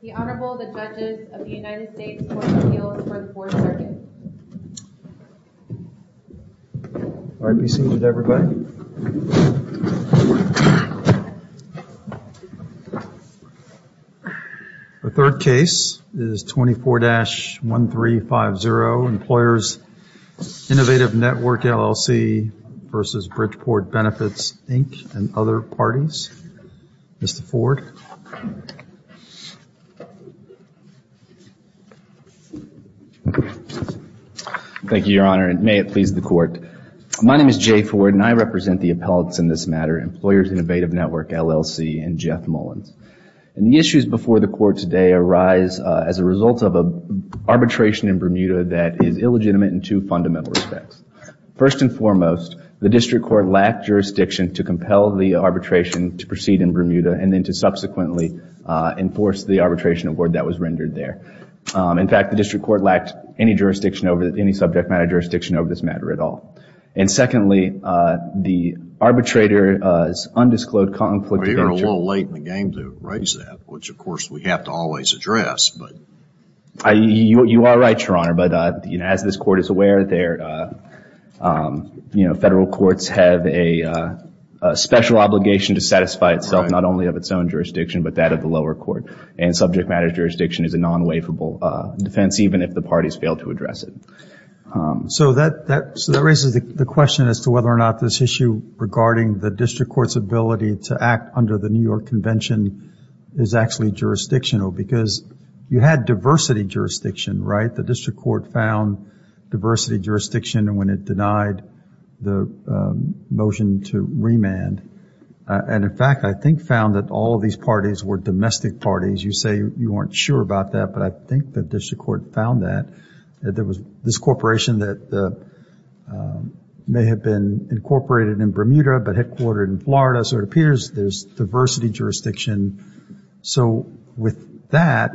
The Honorable, the Judges of the United States Court of Appeals for the Fourth Circuit. All right. Be seated, everybody. The third case is 24-1350 Employers' Innovative Network, LLC v. Bridgeport Benefits, Inc. and other parties. Mr. Ford. Thank you, Your Honor, and may it please the Court. My name is Jay Ford, and I represent the appellates in this matter, Employers' Innovative Network, LLC, and Jeff Mullins. And the issues before the Court today arise as a result of an arbitration in Bermuda that is illegitimate in two fundamental respects. First and foremost, the District Court lacked jurisdiction to compel the arbitration to proceed in Bermuda and then to subsequently enforce the arbitration award that was rendered there. In fact, the District Court lacked any jurisdiction over it, any subject matter jurisdiction over this matter at all. And secondly, the arbitrator's undisclosed conflict of interest. Well, you're a little late in the game to raise that, which, of course, we have to always address. You are right, Your Honor, but as this Court is aware, Federal courts have a special obligation to satisfy itself not only of its own jurisdiction, but that of the lower court. And subject matter jurisdiction is a non-waivable defense, even if the parties fail to address it. So that raises the question as to whether or not this issue regarding the District Court's ability to act under the New York Convention is actually jurisdictional, because you had diversity jurisdiction, right? The District Court found diversity jurisdiction when it denied the motion to remand. And, in fact, I think found that all of these parties were domestic parties. You say you weren't sure about that, but I think the District Court found that. There was this corporation that may have been incorporated in Bermuda but headquartered in Florida, so it appears there's diversity jurisdiction. So with that,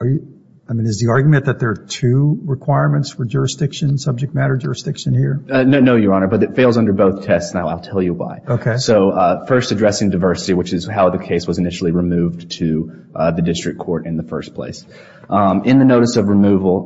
I mean, is the argument that there are two requirements for jurisdiction, subject matter jurisdiction here? No, Your Honor, but it fails under both tests, and I'll tell you why. Okay. So first, addressing diversity, which is how the case was initially removed to the District Court in the first place. In the notice of removal,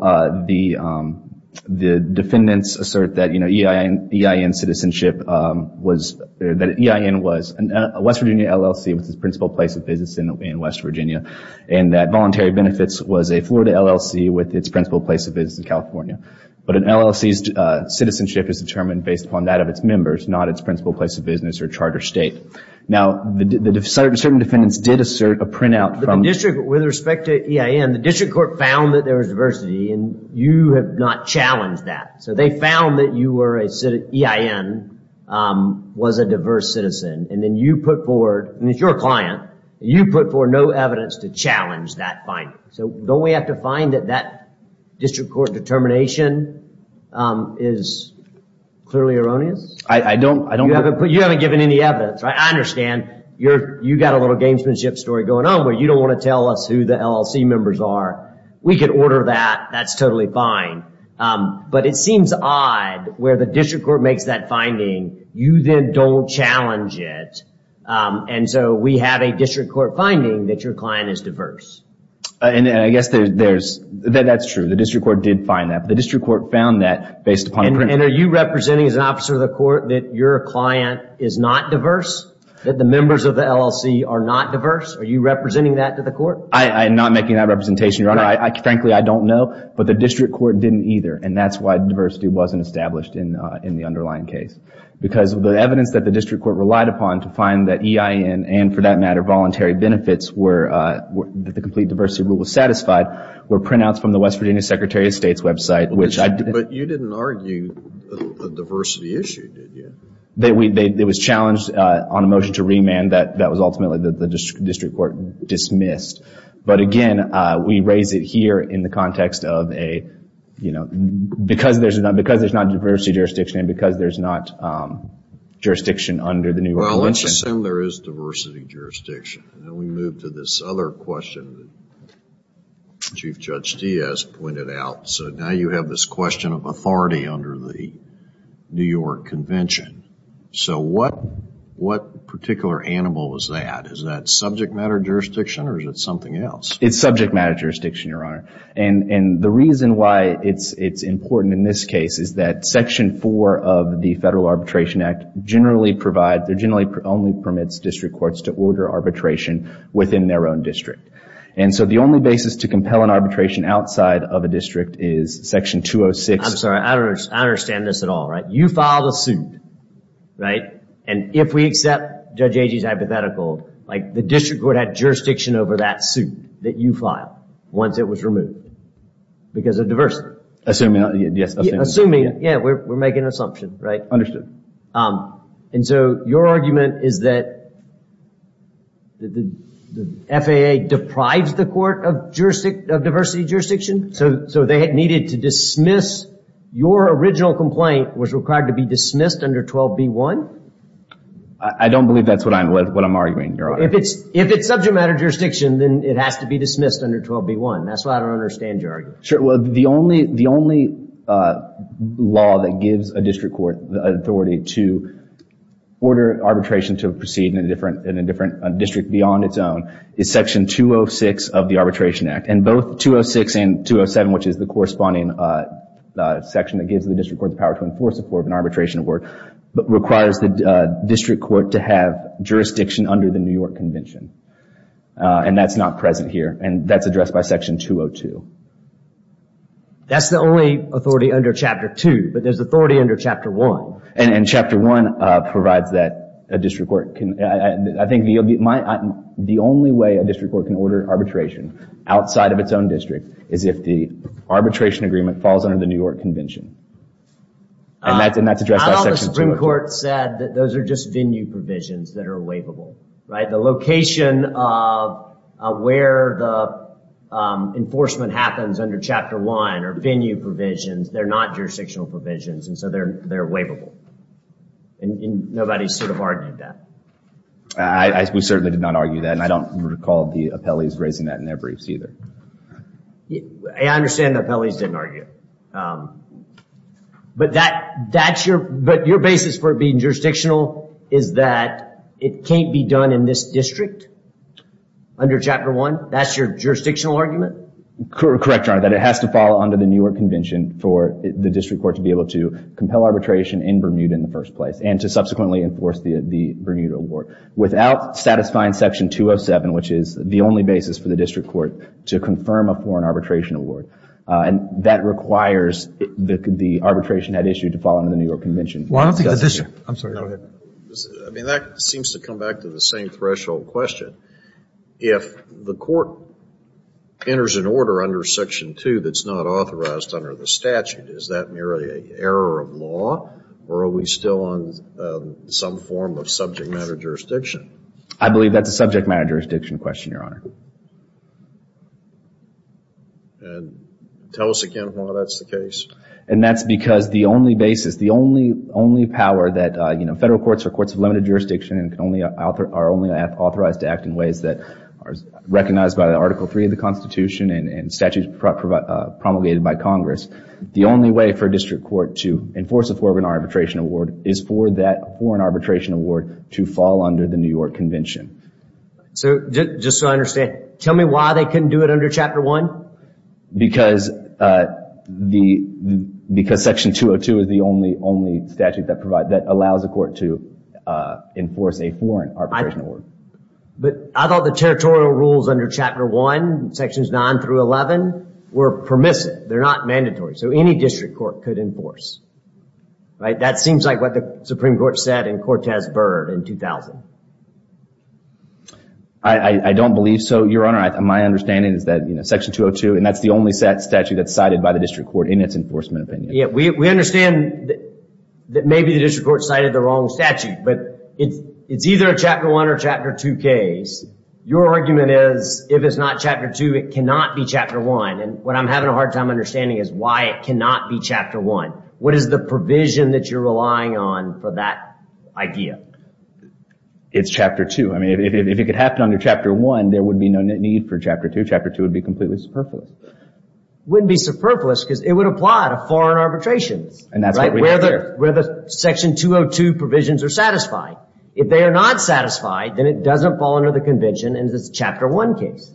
the defendants assert that EIN citizenship was a West Virginia LLC, which is the principal place of business in West Virginia, and that voluntary benefits was a Florida LLC with its principal place of business in California. But an LLC's citizenship is determined based upon that of its members, not its principal place of business or charter state. Now, certain defendants did assert a printout. With respect to EIN, the District Court found that there was diversity, and you have not challenged that. So they found that EIN was a diverse citizen, and then you put forward, and it's your client, you put forward no evidence to challenge that finding. So don't we have to find that that District Court determination is clearly erroneous? You haven't given any evidence, right? I understand you've got a little gamesmanship story going on where you don't want to tell us who the LLC members are. We could order that. That's totally fine. But it seems odd where the District Court makes that finding. You then don't challenge it, and so we have a District Court finding that your client is diverse. I guess that's true. The District Court did find that, but the District Court found that based upon a printout. And are you representing as an officer of the court that your client is not diverse, that the members of the LLC are not diverse? Are you representing that to the court? I'm not making that representation, Your Honor. Frankly, I don't know, but the District Court didn't either, and that's why diversity wasn't established in the underlying case. Because the evidence that the District Court relied upon to find that EIN and, for that matter, voluntary benefits that the complete diversity rule satisfied were printouts from the West Virginia Secretary of State's website. But you didn't argue a diversity issue, did you? It was challenged on a motion to remand that was ultimately the District Court dismissed. But again, we raise it here in the context of because there's not diversity jurisdiction and because there's not jurisdiction under the new regulation. Well, let's assume there is diversity jurisdiction. Then we move to this other question that Chief Judge Diaz pointed out. So now you have this question of authority under the New York Convention. So what particular animal is that? Is that subject matter jurisdiction or is it something else? It's subject matter jurisdiction, Your Honor. And the reason why it's important in this case is that Section 4 of the Federal Arbitration Act generally provides or generally only permits District Courts to order arbitration within their own district. And so the only basis to compel an arbitration outside of a district is Section 206. I'm sorry. I don't understand this at all, right? You filed a suit, right? And if we accept Judge Agee's hypothetical, the District Court had jurisdiction over that suit that you filed once it was removed because of diversity. Assuming, yes. Assuming, yeah, we're making an assumption, right? Understood. And so your argument is that the FAA deprives the Court of diversity jurisdiction? So they needed to dismiss your original complaint was required to be dismissed under 12b-1? I don't believe that's what I'm arguing, Your Honor. If it's subject matter jurisdiction, then it has to be dismissed under 12b-1. That's what I don't understand your argument. Sure. Well, the only law that gives a District Court the authority to order arbitration to proceed in a different district beyond its own is Section 206 of the Arbitration Act. And both 206 and 207, which is the corresponding section that gives the District Court the power to enforce a Court of Arbitration Award, requires the District Court to have jurisdiction under the New York Convention. And that's not present here, and that's addressed by Section 202. That's the only authority under Chapter 2, but there's authority under Chapter 1. And Chapter 1 provides that a District Court can... I think the only way a District Court can order arbitration outside of its own district is if the arbitration agreement falls under the New York Convention. And that's addressed by Section 202. I thought the Supreme Court said that those are just venue provisions that are waivable, right? The location of where the enforcement happens under Chapter 1 are venue provisions. They're not jurisdictional provisions, and so they're waivable. And nobody sort of argued that. We certainly did not argue that, and I don't recall the appellees raising that in their briefs either. I understand the appellees didn't argue. But your basis for it being jurisdictional is that it can't be done in this district under Chapter 1? That's your jurisdictional argument? Correct, Your Honor, that it has to fall under the New York Convention for the District Court to be able to compel arbitration in Bermuda in the first place and to subsequently enforce the Bermuda Award without satisfying Section 207, which is the only basis for the District Court to confirm a foreign arbitration award. And that requires the arbitration had issued to fall under the New York Convention. Well, I don't think the district – I'm sorry. No, go ahead. I mean, that seems to come back to the same threshold question. If the court enters an order under Section 2 that's not authorized under the statute, is that merely an error of law, or are we still on some form of subject matter jurisdiction? I believe that's a subject matter jurisdiction question, Your Honor. And tell us again why that's the case. And that's because the only basis, the only power that, you know, federal courts are courts of limited jurisdiction and are only authorized to act in ways that are recognized by Article 3 of the Constitution and statutes promulgated by Congress. The only way for a district court to enforce a foreign arbitration award is for that foreign arbitration award to fall under the New York Convention. So just so I understand, tell me why they couldn't do it under Chapter 1? Because Section 202 is the only statute that allows a court to enforce a foreign arbitration award. But I thought the territorial rules under Chapter 1, Sections 9 through 11, were permissive. They're not mandatory. So any district court could enforce. That seems like what the Supreme Court said in Cortez Burr in 2000. I don't believe so, Your Honor. My understanding is that Section 202, and that's the only statute that's cited by the district court in its enforcement opinion. We understand that maybe the district court cited the wrong statute, but it's either a Chapter 1 or Chapter 2 case. Your argument is if it's not Chapter 2, it cannot be Chapter 1. And what I'm having a hard time understanding is why it cannot be Chapter 1. What is the provision that you're relying on for that idea? It's Chapter 2. I mean, if it could happen under Chapter 1, there would be no need for Chapter 2. Chapter 2 would be completely superfluous. It wouldn't be superfluous because it would apply to foreign arbitrations. And that's what we have here. Where the Section 202 provisions are satisfied. If they are not satisfied, then it doesn't fall under the convention and it's a Chapter 1 case.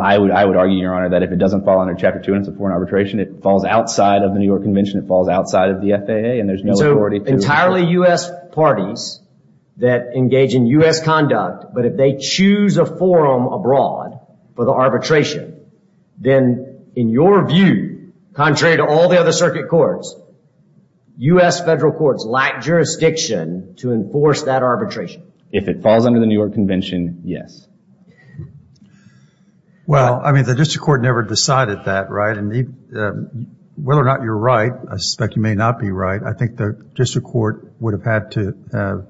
I would argue, Your Honor, that if it doesn't fall under Chapter 2 and it's a foreign arbitration, it falls outside of the New York Convention, it falls outside of the FAA, and there's no authority to... Entirely U.S. parties that engage in U.S. conduct, but if they choose a forum abroad for the arbitration, then in your view, contrary to all the other circuit courts, U.S. federal courts lack jurisdiction to enforce that arbitration. If it falls under the New York Convention, yes. Well, I mean, the district court never decided that, right? And whether or not you're right, I suspect you may not be right, I think the district court would have had to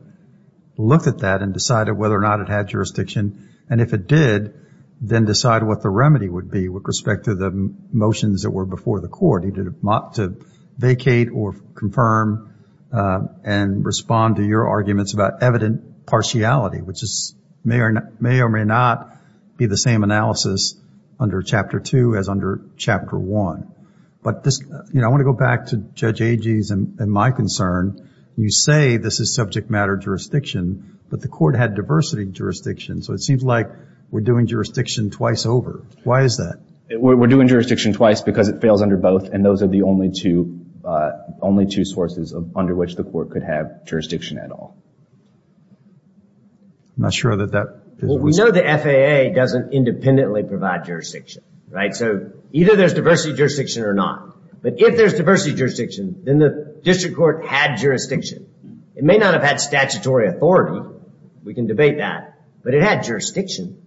look at that and decide whether or not it had jurisdiction. And if it did, then decide what the remedy would be with respect to the motions that were before the court. to vacate or confirm and respond to your arguments about evident partiality, which may or may not be the same analysis under Chapter 2 as under Chapter 1. But I want to go back to Judge Agee's and my concern. You say this is subject matter jurisdiction, but the court had diversity jurisdiction, so it seems like we're doing jurisdiction twice over. Why is that? We're doing jurisdiction twice because it fails under both, and those are the only two sources under which the court could have jurisdiction at all. I'm not sure that that fits. Well, we know the FAA doesn't independently provide jurisdiction, right? So either there's diversity jurisdiction or not. But if there's diversity jurisdiction, then the district court had jurisdiction. It may not have had statutory authority, we can debate that, but it had jurisdiction.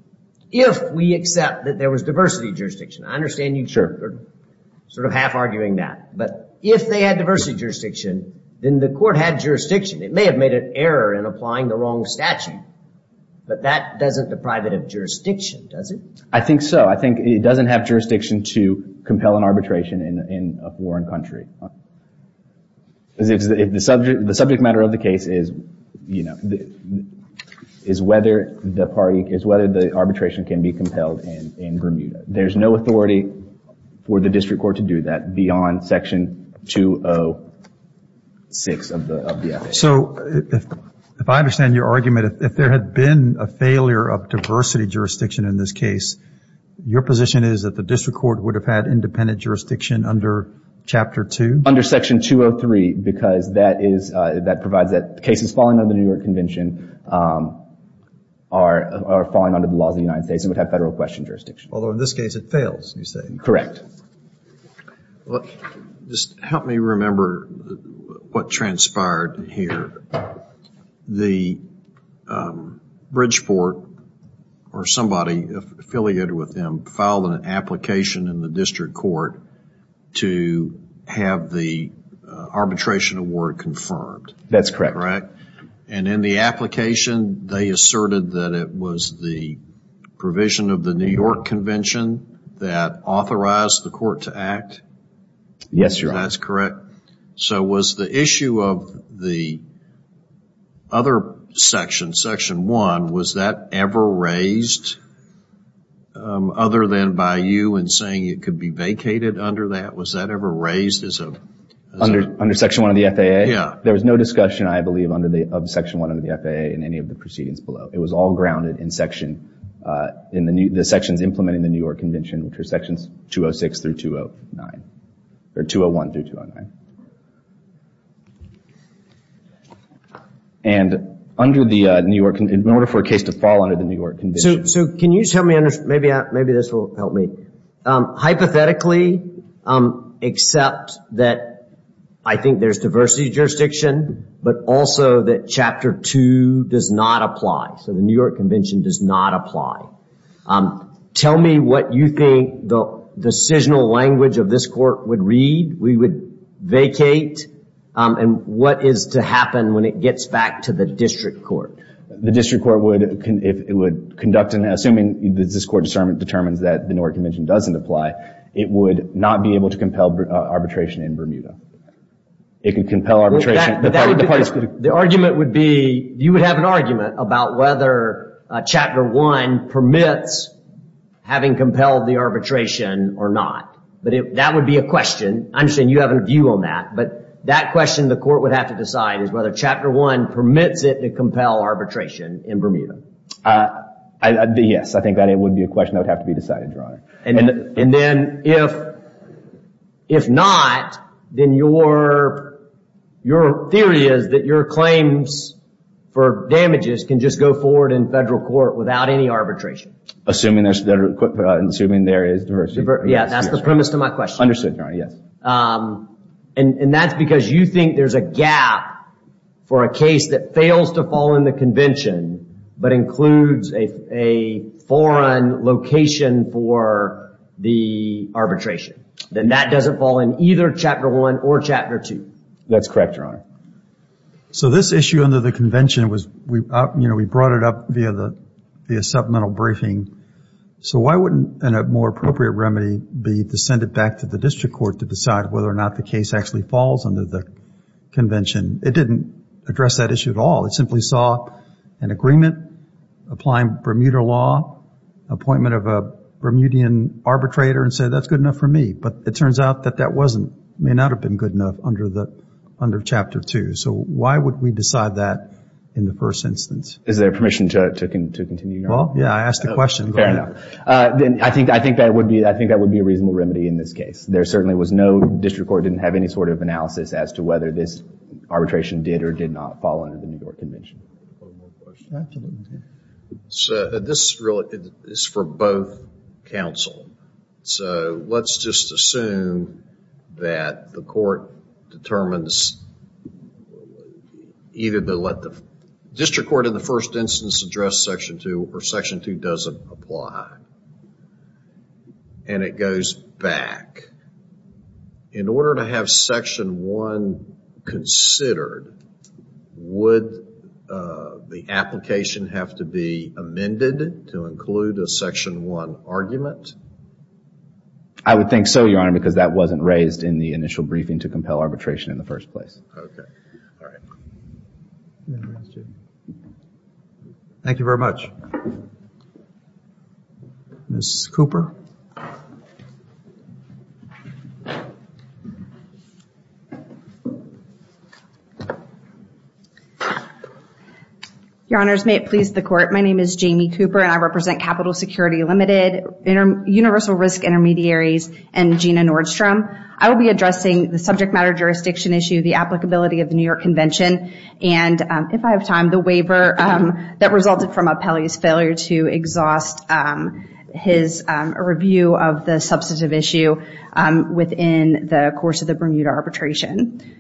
If we accept that there was diversity jurisdiction, I understand you're sort of half arguing that, but if they had diversity jurisdiction, then the court had jurisdiction. It may have made an error in applying the wrong statute, but that doesn't deprive it of jurisdiction, does it? I think so. I think it doesn't have jurisdiction to compel an arbitration in a foreign country. The subject matter of the case is whether the arbitration can be compelled in Bermuda. There's no authority for the district court to do that beyond Section 206 of the FAA. So if I understand your argument, if there had been a failure of diversity jurisdiction in this case, your position is that the district court would have had independent jurisdiction under Chapter 2? Under Section 203, because that provides that cases falling under the New York Convention are falling under the laws of the United States and would have federal question jurisdiction. Although in this case it fails, you say? Correct. Well, just help me remember what transpired here. The Bridgeport or somebody affiliated with them filed an application in the district court to have the arbitration award confirmed. That's correct. Correct? And in the application, they asserted that it was the provision of the New York Convention that authorized the court to act? Yes, Your Honor. That's correct. So was the issue of the other section, Section 1, was that ever raised other than by you in saying it could be vacated under that? Was that ever raised as a... Under Section 1 of the FAA? Yeah. There was no discussion, I believe, of Section 1 under the FAA in any of the proceedings below. It was all grounded in the sections implementing the New York Convention, which were Sections 206 through 209, or 201 through 209. And under the New York Convention, in order for a case to fall under the New York Convention... So can you tell me, maybe this will help me. Hypothetically, except that I think there's diversity of jurisdiction, but also that Chapter 2 does not apply. So the New York Convention does not apply. Tell me what you think the decisional language of this court would read. We would vacate. And what is to happen when it gets back to the district court? The district court would, if it would conduct, and assuming that this court determines that the New York Convention doesn't apply, it would not be able to compel arbitration in Bermuda. It could compel arbitration. The argument would be, you would have an argument about whether Chapter 1 permits having compelled the arbitration or not. But that would be a question. I understand you have a view on that, but that question the court would have to decide is whether Chapter 1 permits it to compel arbitration in Bermuda. Yes, I think that would be a question that would have to be decided, Your Honor. And then if not, then your theory is that your claims for damages can just go forward in federal court without any arbitration. Assuming there is diversity. Yes, that's the premise to my question. Understood, Your Honor, yes. And that's because you think there's a gap for a case that fails to fall in the convention, but includes a foreign location for the arbitration. Then that doesn't fall in either Chapter 1 or Chapter 2. That's correct, Your Honor. So this issue under the convention was, you know, we brought it up via supplemental briefing. So why wouldn't a more appropriate remedy be to send it back to the district court to decide whether or not the case actually falls under the convention? It didn't address that issue at all. It simply saw an agreement applying Bermuda law, appointment of a Bermudian arbitrator, and said that's good enough for me. But it turns out that that wasn't, may not have been good enough under Chapter 2. So why would we decide that in the first instance? Is there permission to continue, Your Honor? Well, yeah, I asked a question. Fair enough. I think that would be a reasonable remedy in this case. There certainly was no, district court didn't have any sort of analysis as to whether this arbitration did or did not fall under the New York convention. One more question. So this is for both counsel. So let's just assume that the court determines either to let the district court in the first instance address Section 2 or Section 2 doesn't apply. And it goes back. In order to have Section 1 considered, would the application have to be amended to include a Section 1 argument? I would think so, Your Honor, because that wasn't raised in the initial briefing to compel arbitration in the first place. Okay. All right. Thank you very much. Ms. Cooper. Your Honors, may it please the court. My name is Jamie Cooper, and I represent Capital Security Limited, Universal Risk Intermediaries, and Gina Nordstrom. I will be addressing the subject matter jurisdiction issue, the applicability of the New York convention, and if I have time, the waiver that resulted from Apelli's failure to exhaust his review of the substantive issue within the course of the Bermuda arbitration.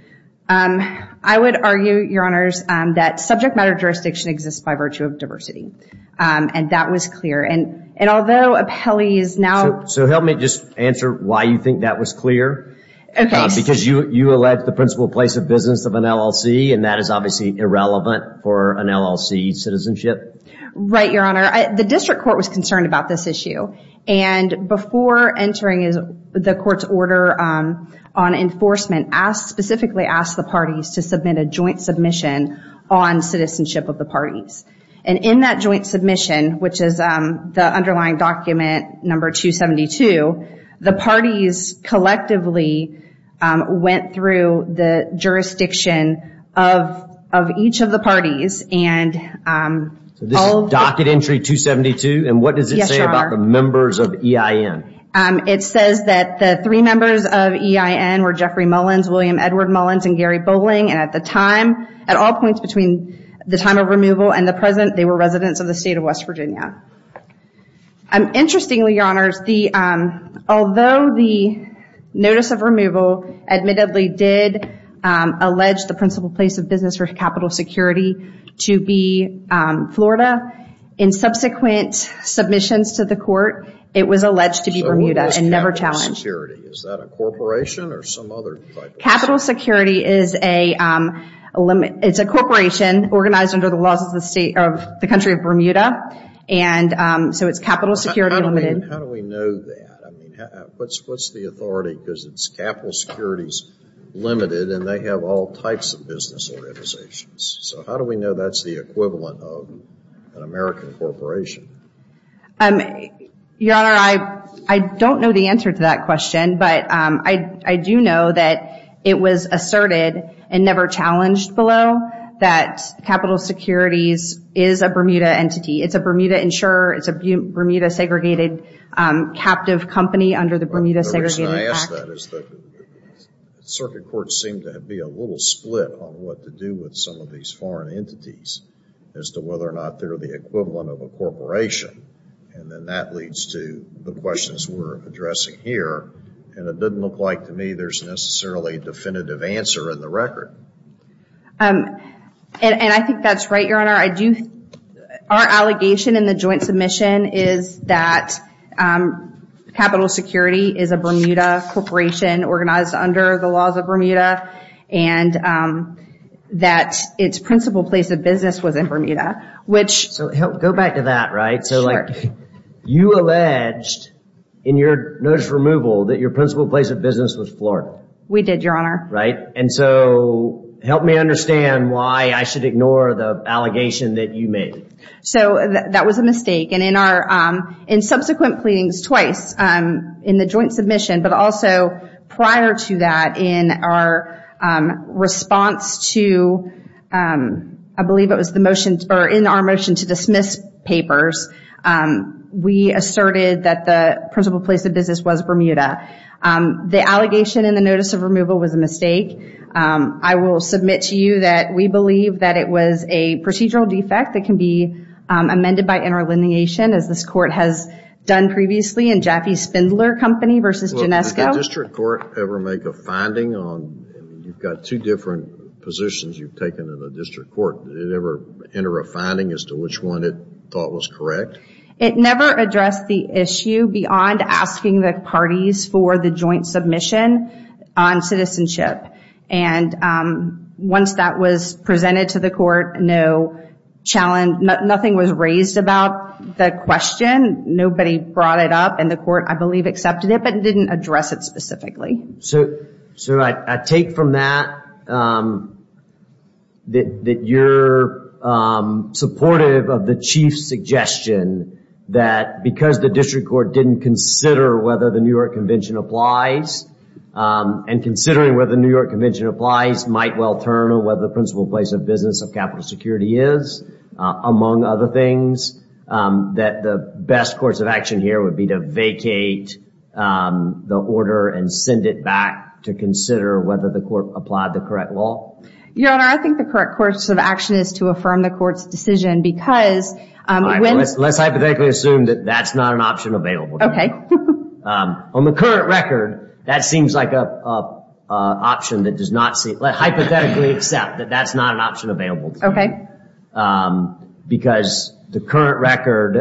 I would argue, Your Honors, that subject matter jurisdiction exists by virtue of diversity. And that was clear. And although Apelli is now... So help me just answer why you think that was clear. Okay. Because you allege the principal place of business of an LLC, and that is obviously irrelevant for an LLC citizenship. Right, Your Honor. The district court was concerned about this issue. And before entering the court's order on enforcement, specifically asked the parties to submit a joint submission on citizenship of the parties. And in that joint submission, which is the underlying document number 272, the parties collectively went through the jurisdiction of each of the parties and... So this is docket entry 272? And what does it say about the members of EIN? It says that the three members of EIN were Jeffrey Mullins, William Edward Mullins, and Gary Bowling. And at the time, at all points between the time of removal and the present, they were residents of the state of West Virginia. Interestingly, Your Honors, although the notice of removal admittedly did allege the principal place of business for capital security to be Florida, in subsequent submissions to the court, it was alleged to be Bermuda and never challenged. Is that a corporation or some other type of... Capital security is a corporation organized under the laws of the country of Bermuda. And so it's capital security limited. How do we know that? What's the authority? Because it's capital security's limited and they have all types of business organizations. So how do we know that's the equivalent of an American corporation? Your Honor, I don't know the answer to that question, but I do know that it was asserted and never challenged below that capital securities is a Bermuda entity. It's a Bermuda insurer. It's a Bermuda segregated captive company under the Bermuda Segregated Act. The reason I ask that is that circuit courts seem to be a little split on what to do with some of these foreign entities as to whether or not they're the equivalent of a corporation. And then that leads to the questions we're addressing here. And it doesn't look like to me there's necessarily a definitive answer in the record. And I think that's right, Your Honor. Our allegation in the joint submission is that capital security is a Bermuda corporation organized under the laws of Bermuda. And that its principal place of business was in Bermuda. So go back to that, right? Sure. You alleged in your notice of removal that your principal place of business was Florida. We did, Your Honor. Right. And so help me understand why I should ignore the allegation that you made. So that was a mistake. And in subsequent pleadings twice in the joint submission, but also prior to that, in our response to, I believe it was in our motion to dismiss papers, we asserted that the principal place of business was Bermuda. The allegation in the notice of removal was a mistake. I will submit to you that we believe that it was a procedural defect that can be amended by interlineation, as this court has done previously in Jaffe-Spindler Company versus Genesco. Did the district court ever make a finding on, you've got two different positions you've taken in the district court. Did it ever enter a finding as to which one it thought was correct? It never addressed the issue beyond asking the parties for the joint submission on citizenship. And once that was presented to the court, no challenge, nothing was raised about the question. Nobody brought it up, and the court, I believe, accepted it, but didn't address it specifically. So I take from that that you're supportive of the chief's suggestion that because the district court didn't consider whether the New York Convention applies, and considering whether the New York Convention applies might well turn on whether the principal place of business of capital security is, among other things, that the best course of action here would be to vacate the order and send it back to consider whether the court applied the correct law? Your Honor, I think the correct course of action is to affirm the court's decision because... All right, well, let's hypothetically assume that that's not an option available to you. Okay. On the current record, that seems like an option that does not seem... Let's hypothetically accept that that's not an option available to you. Okay. Because the current record,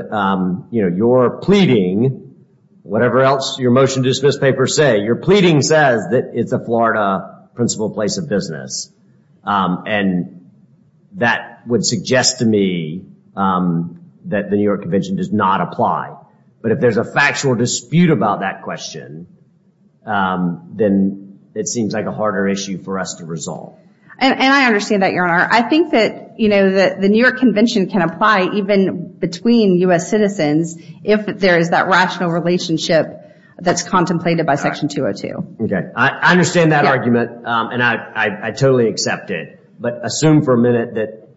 you know, your pleading, whatever else your motion to dismiss papers say, your pleading says that it's a Florida principal place of business, and that would suggest to me that the New York Convention does not apply. But if there's a factual dispute about that question, then it seems like a harder issue for us to resolve. And I understand that, Your Honor. I think that, you know, the New York Convention can apply even between U.S. citizens if there is that rational relationship that's contemplated by Section 202. Okay, I understand that argument, and I totally accept it. But assume for a minute that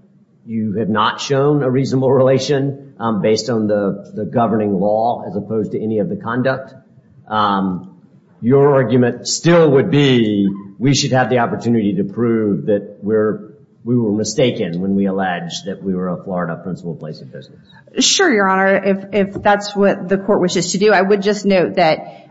you have not shown a reasonable relation based on the governing law as opposed to any of the conduct. Your argument still would be we should have the opportunity to prove that we were mistaken when we alleged that we were a Florida principal place of business. Sure, Your Honor. If that's what the court wishes to do, I would just note that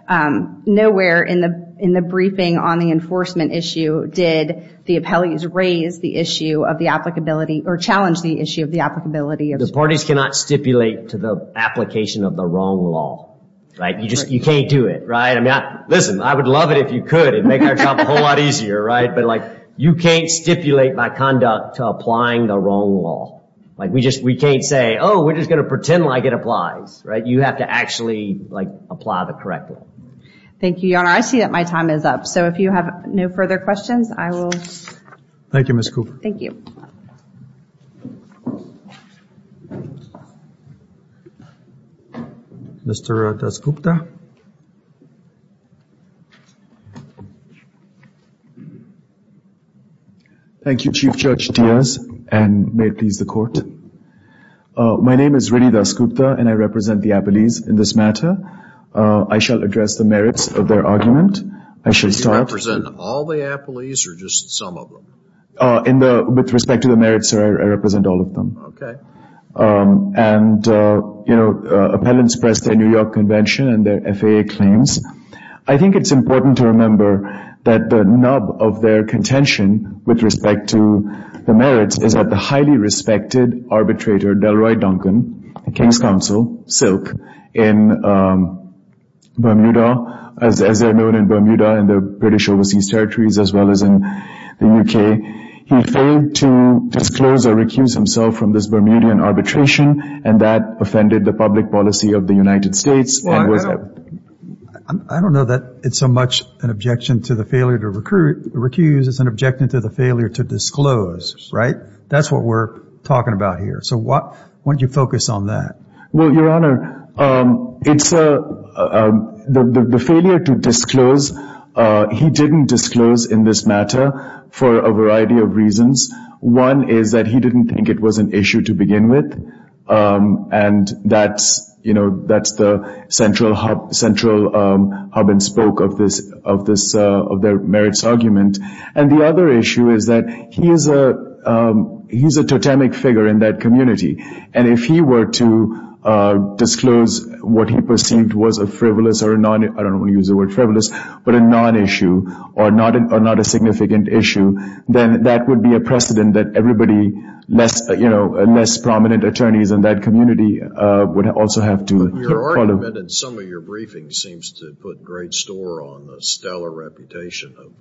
nowhere in the briefing on the enforcement issue did the appellees raise the issue of the applicability or challenge the issue of the applicability. The parties cannot stipulate to the application of the wrong law, right? You can't do it, right? Listen, I would love it if you could and make our job a whole lot easier, right? Like, you can't stipulate by conduct to applying the wrong law. Like, we can't say, oh, we're just going to pretend like it applies, right? You have to actually, like, apply the correct law. Thank you, Your Honor. I see that my time is up. So if you have no further questions, I will... Thank you, Ms. Cooper. Thank you. Mr. Dasgupta? Thank you, Chief Judge Diaz, and may it please the court. My name is Riddhi Dasgupta, and I represent the appellees in this matter. I shall address the merits of their argument. I shall start... Do you represent all the appellees or just some of them? With respect to the merits, sir, I represent all of them. Okay. And, you know, appellants press their New York Convention and their FAA claims. I think it's important to remember that the nub of their contention with respect to the merits is that the highly respected arbitrator Delroy Duncan, the King's counsel, Silk, in Bermuda, as they're known in Bermuda and the British Overseas Territories as well as in the U.K., he failed to disclose or recuse himself from this Bermudian arbitration, and that offended the public policy of the United States. I don't know that it's so much an objection to the failure to recuse as an objection to the failure to disclose, right? That's what we're talking about here. So why don't you focus on that? Well, Your Honor, the failure to disclose, he didn't disclose in this matter for a variety of reasons. One is that he didn't think it was an issue to begin with, and that's the central hub and spoke of their merits argument. And the other issue is that he's a totemic figure in that community, and if he were to disclose what he perceived was a frivolous or a non-issue, I don't want to use the word frivolous, but a non-issue or not a significant issue, then that would be a precedent that everybody, less prominent attorneys in that community would also have to follow. Your argument in some of your briefings seems to put great store on the stellar reputation of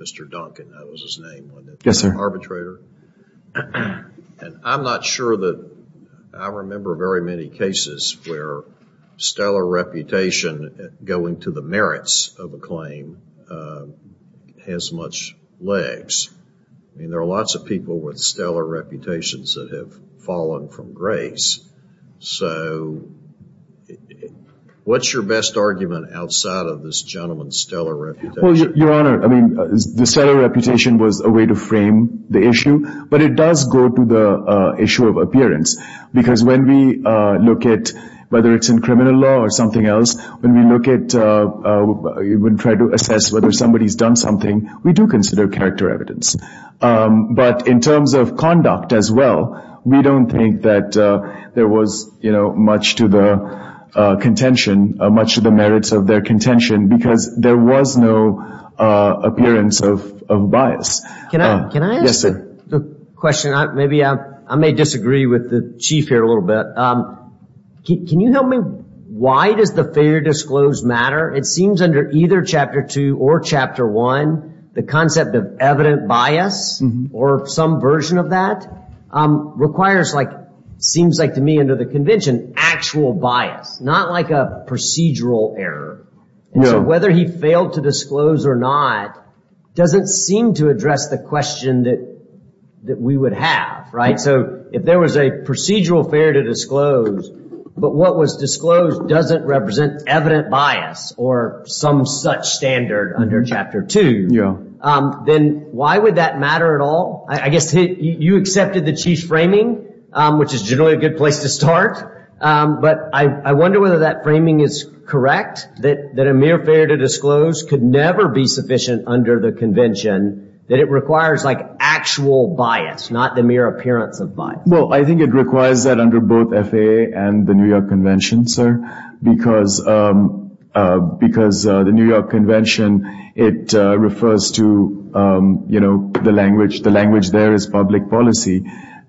Mr. Duncan. That was his name, wasn't it? Yes, sir. Arbitrator. And I'm not sure that I remember very many cases where stellar reputation going to the merits of a claim has much legs. I mean, there are lots of people with stellar reputations that have fallen from grace. So what's your best argument outside of this gentleman's stellar reputation? Well, Your Honor, I mean, the stellar reputation was a way to frame the issue, but it does go to the issue of appearance, because when we look at whether it's in criminal law or something else, when we look at, when we try to assess whether somebody's done something, we do consider character evidence. But in terms of conduct as well, we don't think that there was, you know, much to the contention, much to the merits of their contention, because there was no appearance of bias. Can I ask a question? I may disagree with the Chief here a little bit. Can you help me? Why does the failure to disclose matter? It seems under either Chapter 2 or Chapter 1, the concept of evident bias or some version of that requires, like, seems like to me under the convention, actual bias, not like a procedural error. So whether he failed to disclose or not doesn't seem to address the question that we would have, right? So if there was a procedural failure to disclose, but what was disclosed doesn't represent evident bias or some such standard under Chapter 2, then why would that matter at all? I guess you accepted the Chief's framing, which is generally a good place to start, but I wonder whether that framing is correct, that a mere failure to disclose could never be sufficient under the convention, that it requires, like, actual bias, not the mere appearance of bias. Well, I think it requires that under both FAA and the New York Convention, sir, because the New York Convention, it refers to, you know, the language. The language there is public policy.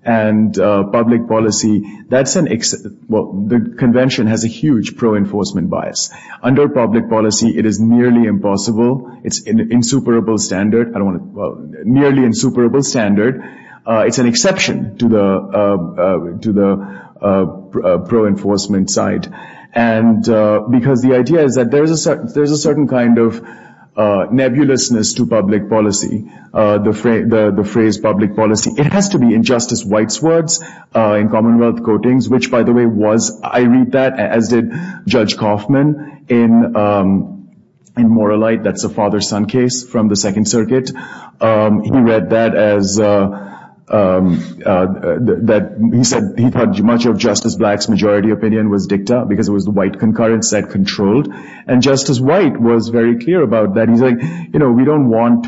And public policy, that's an exception. Well, the convention has a huge pro-enforcement bias. Under public policy, it is nearly impossible. It's an insuperable standard. I don't want to, well, nearly insuperable standard. It's an exception to the pro-enforcement side, because the idea is that there is a certain kind of nebulousness to public policy, the phrase public policy. It has to be in Justice White's words in Commonwealth Coatings, which, by the way, was, I read that, as did Judge Kaufman in Moralite, that's a father-son case from the Second Circuit. He read that as, he said he thought much of Justice Black's majority opinion was dicta, because it was the white concurrence that controlled. And Justice White was very clear about that. He's like, you know, we don't want,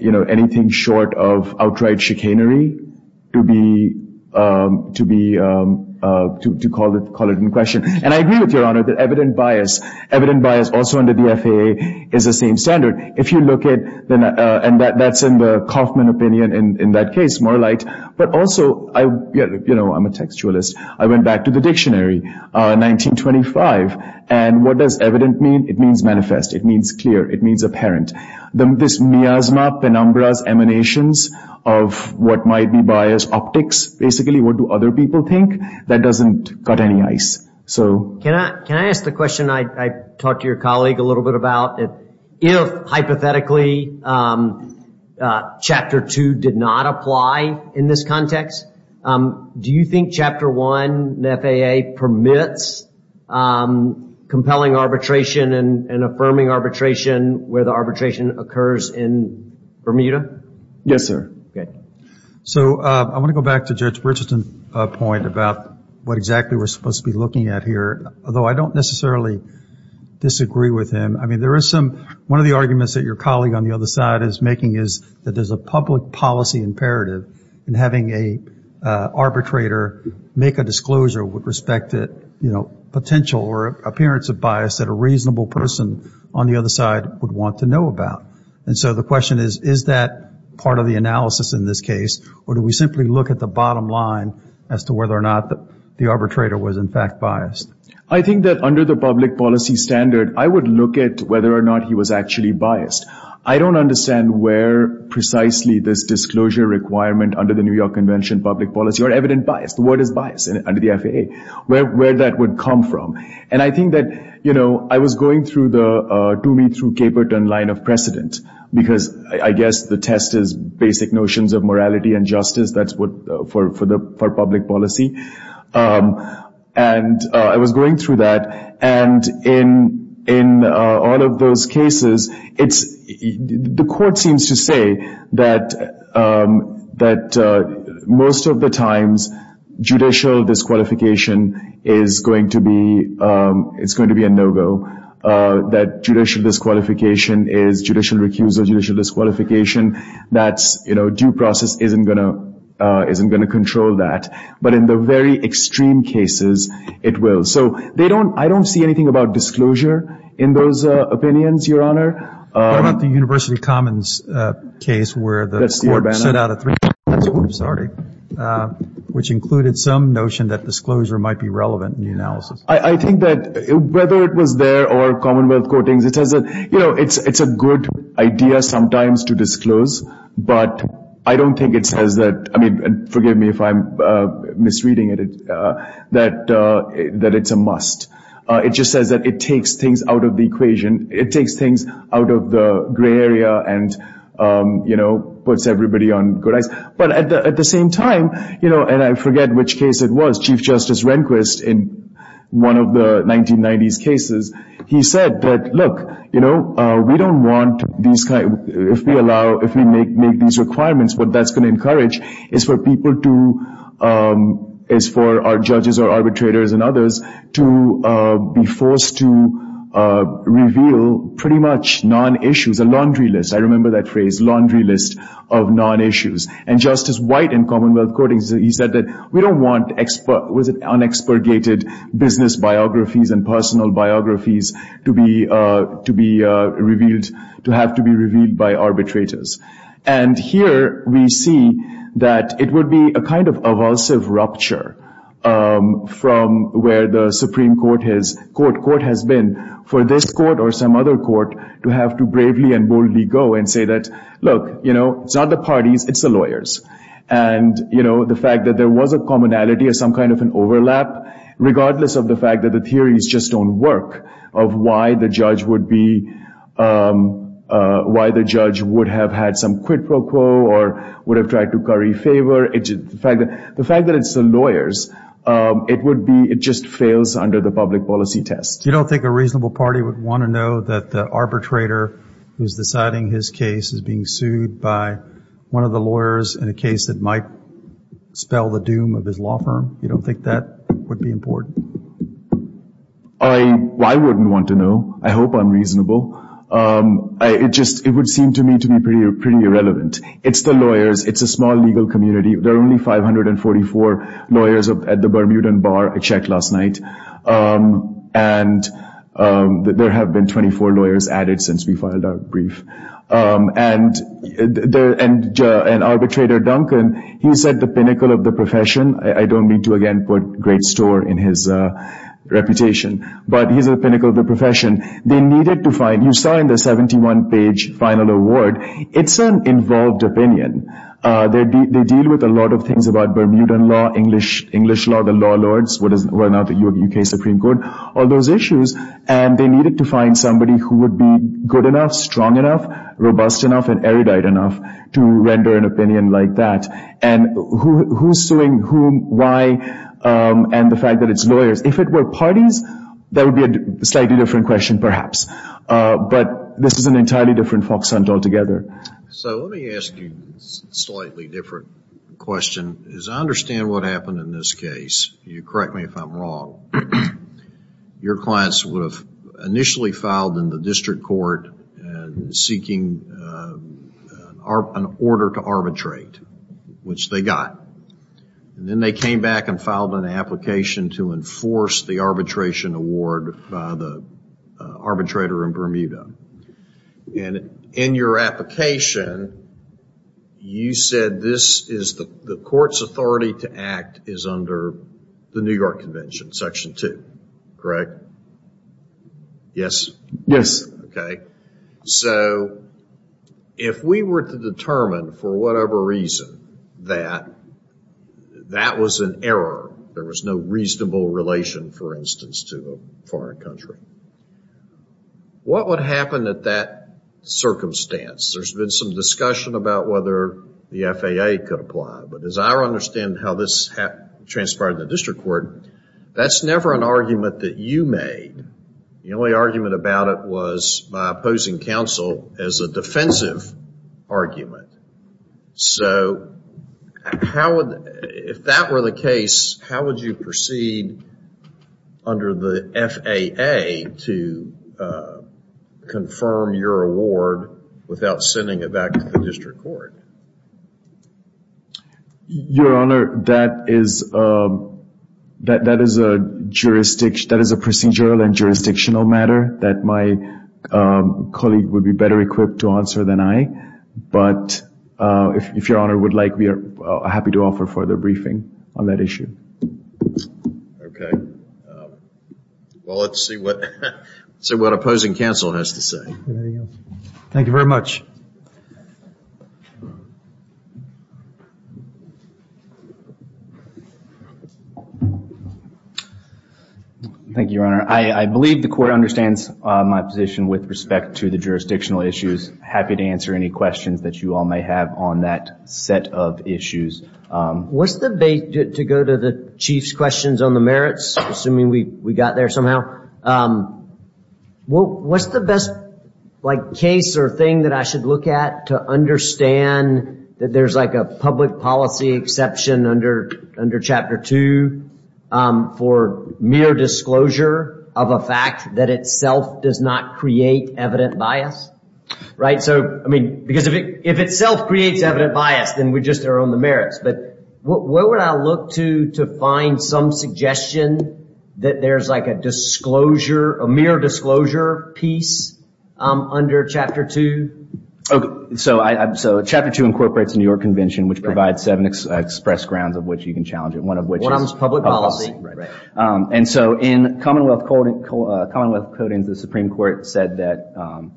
you know, anything short of outright chicanery to be, to call it into question. And I agree with Your Honor that evident bias, evident bias also under the FAA is the same standard. If you look at, and that's in the Kaufman opinion in that case, Moralite. But also, you know, I'm a textualist. I went back to the dictionary, 1925, and what does evident mean? It means manifest. It means clear. It means apparent. This miasma, penumbras, emanations of what might be biased optics, basically, what do other people think, that doesn't cut any ice. Can I ask the question I talked to your colleague a little bit about? If, hypothetically, Chapter 2 did not apply in this context, do you think Chapter 1 in the FAA permits compelling arbitration and affirming arbitration where the arbitration occurs in Bermuda? Yes, sir. So I want to go back to Judge Richardson's point about what exactly we're supposed to be looking at here, although I don't necessarily disagree with him. I mean, there is some, one of the arguments that your colleague on the other side is making is that there's a public policy imperative in having an arbitrator make a disclosure with respect to, you know, potential or appearance of bias that a reasonable person on the other side would want to know about. And so the question is, is that part of the analysis in this case, or do we simply look at the bottom line as to whether or not the arbitrator was, in fact, biased? I think that under the public policy standard, I would look at whether or not he was actually biased. I don't understand where precisely this disclosure requirement under the New York Convention of Public Policy, or evident bias, the word is bias under the FAA, where that would come from. And I think that, you know, I was going through the do me through Caperton line of precedent, because I guess the test is basic notions of morality and justice, that's what, for public policy. And I was going through that, and in all of those cases, it's, the court seems to say that most of the times judicial disqualification is going to be a no-go, that judicial disqualification is judicial recusal, judicial disqualification that's, you know, due process isn't going to control that. But in the very extreme cases, it will. So I don't see anything about disclosure in those opinions, Your Honor. What about the University Commons case, where the court set out a three-part disclosure, which included some notion that disclosure might be relevant in the analysis? I think that whether it was there or Commonwealth courtings, it's a good idea sometimes to disclose, but I don't think it says that, I mean, forgive me if I'm misreading it, that it's a must. It just says that it takes things out of the equation, it takes things out of the gray area, and, you know, puts everybody on good eyes. But at the same time, you know, and I forget which case it was, Chief Justice Rehnquist, in one of the 1990s cases, he said that, look, you know, we don't want these kinds, if we allow, if we make these requirements, what that's going to encourage is for people to, is for our judges or arbitrators and others to be forced to reveal pretty much non-issues, a laundry list. I remember that phrase, laundry list of non-issues. And Justice White in Commonwealth courtings, he said that we don't want unexpurgated business biographies and personal biographies to be revealed, to have to be revealed by arbitrators. And here we see that it would be a kind of evulsive rupture from where the Supreme Court has, court has been for this court or some other court to have to bravely and boldly go and say that, look, you know, it's not the parties, it's the lawyers. And, you know, the fact that there was a commonality or some kind of an overlap, regardless of the fact that the theories just don't work of why the judge would be, why the judge would have had some quid pro quo or would have tried to curry favor, the fact that it's the lawyers, it would be, it just fails under the public policy test. You don't think a reasonable party would want to know that the arbitrator who's deciding his case is being sued by one of the lawyers in a case that might spell the doom of his law firm? You don't think that would be important? I wouldn't want to know. I hope I'm reasonable. It would seem to me to be pretty irrelevant. It's the lawyers. It's a small legal community. There are only 544 lawyers at the Bermudan Bar I checked last night, and there have been 24 lawyers added since we filed our brief. And Arbitrator Duncan, he's at the pinnacle of the profession. I don't mean to, again, put great store in his reputation, but he's at the pinnacle of the profession. They needed to find, you saw in the 71-page final award, it's an involved opinion. They deal with a lot of things about Bermudan law, English law, the law lords, well, now the U.K. Supreme Court, all those issues, and they needed to find somebody who would be good enough, strong enough, robust enough, and erudite enough to render an opinion like that. And who's suing whom, why, and the fact that it's lawyers. If it were parties, that would be a slightly different question, perhaps. But this is an entirely different foxhunt altogether. So let me ask you a slightly different question. As I understand what happened in this case, you correct me if I'm wrong, your clients would have initially filed in the district court seeking an order to arbitrate, which they got. And then they came back and filed an application to enforce the arbitration award by the arbitrator in Bermuda. And in your application, you said the court's authority to act is under the New York Convention, Section 2. Correct? Yes? Okay. So if we were to determine, for whatever reason, that that was an error, there was no reasonable relation, for instance, to a foreign country, what would happen at that circumstance? There's been some discussion about whether the FAA could apply. But as I understand how this transpired in the district court, that's never an argument that you made. The only argument about it was by opposing counsel as a defensive argument. So if that were the case, how would you proceed under the FAA to confirm your award without sending it back to the district court? Your Honor, that is a procedural and jurisdictional matter that my colleague would be better equipped to answer than I. But if Your Honor would like, we are happy to offer further briefing on that issue. Okay. Well, let's see what opposing counsel has to say. Thank you very much. Thank you, Your Honor. I believe the court understands my position with respect to the jurisdictional issues. I'm just happy to answer any questions that you all may have on that set of issues. To go to the Chief's questions on the merits, assuming we got there somehow, what's the best case or thing that I should look at to understand that there's a public policy exception under Chapter 2 for mere disclosure of a fact that itself does not create evident bias? Because if itself creates evident bias, then we just are on the merits. But where would I look to find some suggestion that there's like a mere disclosure piece under Chapter 2? So Chapter 2 incorporates the New York Convention, which provides seven express grounds of which you can challenge it. One of which is public policy. And so in Commonwealth Codings, the Supreme Court said that,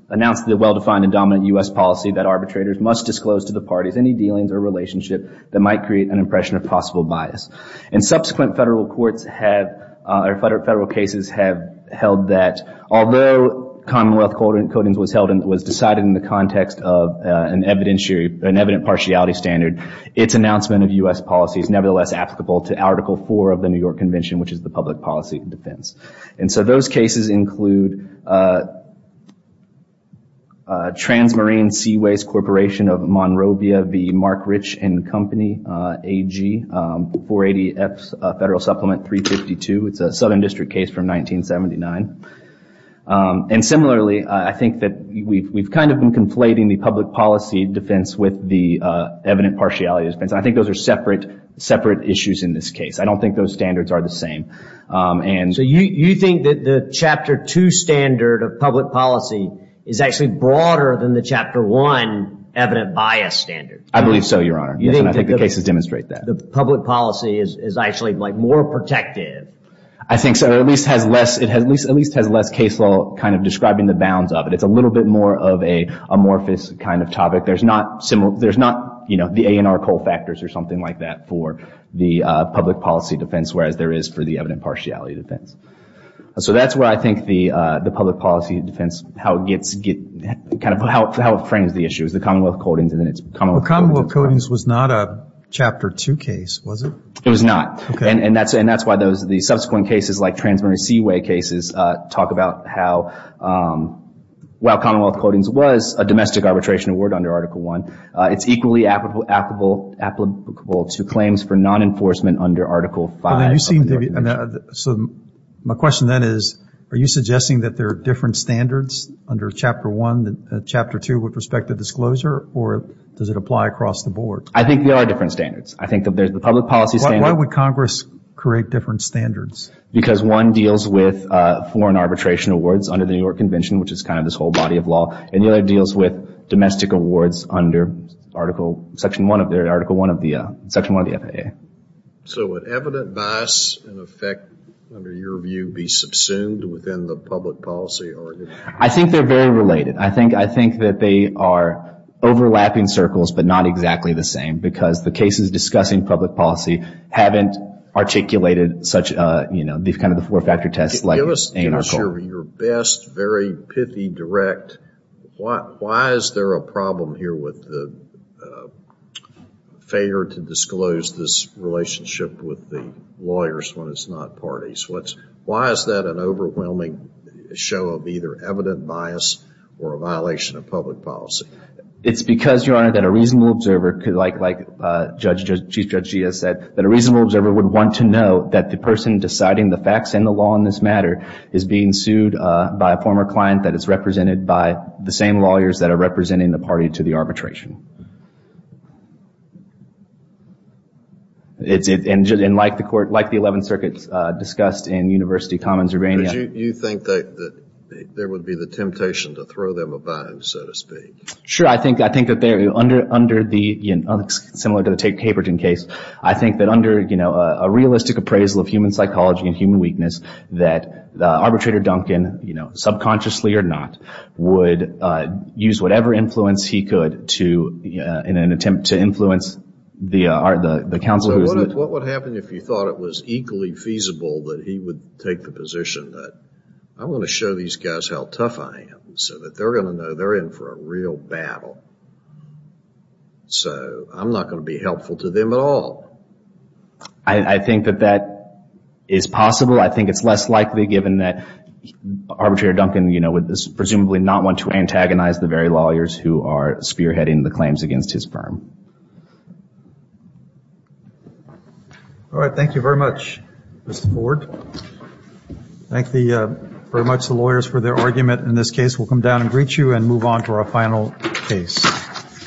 announced the well-defined and dominant U.S. policy that arbitrators must disclose to the parties any dealings or relationship that might create an impression of possible bias. And subsequent federal courts have, or federal cases have held that although Commonwealth Codings was decided in the context of an evident partiality standard, its announcement of U.S. policy is nevertheless applicable to Article 4 of the New York Convention, which is the public policy defense. And so those cases include Transmarine Seaways Corporation of Monrovia v. Mark Rich and Company, AG, 480F Federal Supplement 352. It's a Southern District case from 1979. And similarly, I think that we've kind of been conflating the public policy defense with the evident partiality defense. And I think those are separate issues in this case. I don't think those standards are the same. So you think that the Chapter 2 standard of public policy is actually broader than the Chapter 1 evident bias standard? I believe so, Your Honor. And I think the cases demonstrate that. The public policy is actually like more protective. I think so. It at least has less case law kind of describing the bounds of it. It's a little bit more of an amorphous kind of topic. There's not, you know, the A&R Cole factors or something like that for the public policy defense, whereas there is for the evident partiality defense. So that's where I think the public policy defense, how it frames the issue is the Commonwealth Codings. Commonwealth Codings was not a Chapter 2 case, was it? It was not. Okay. And that's why the subsequent cases, like Trans-Marine Seaway cases, talk about how while Commonwealth Codings was a domestic arbitration award under Article 1, it's equally applicable to claims for non-enforcement under Article 5. So my question then is, are you suggesting that there are different standards under Chapter 1, Chapter 2 with respect to disclosure, or does it apply across the board? I think there are different standards. I think that there's the public policy standard. Why would Congress create different standards? Because one deals with foreign arbitration awards under the New York Convention, which is kind of this whole body of law, and the other deals with domestic awards under Article 1 of the FAA. So would evident bias and effect under your view be subsumed within the public policy argument? I think they're very related. I think that they are overlapping circles but not exactly the same because the cases discussing public policy haven't articulated such a, you know, kind of the four-factor test like in our court. Give us your best, very pithy, direct, why is there a problem here with the failure to disclose this relationship with the lawyers when it's not parties? Why is that an overwhelming show of either evident bias or a violation of public policy? It's because, Your Honor, that a reasonable observer, like Chief Judge Gia said, that a reasonable observer would want to know that the person deciding the facts and the law in this matter is being sued by a former client that is represented by the same lawyers that are representing the party to the arbitration. And like the 11th Circuit discussed in University Commons Urbana. Judge, you think that there would be the temptation to throw them a bind, so to speak? Sure. I think that under the, similar to the Tate-Haberton case, I think that under, you know, a realistic appraisal of human psychology and human weakness, that arbitrator Duncan, you know, subconsciously or not, would use whatever influence he could to, in an attempt to influence the counsel. So what would happen if you thought it was equally feasible that he would take the position that I want to show these guys how tough I am, so that they're going to know they're in for a real battle. So I'm not going to be helpful to them at all. I think that that is possible. I think it's less likely, given that arbitrator Duncan, you know, would presumably not want to antagonize the very lawyers who are spearheading the claims against his firm. All right. Thank you very much, Mr. Ford. Thank you very much to the lawyers for their argument in this case. We'll come down and greet you and move on to our final case.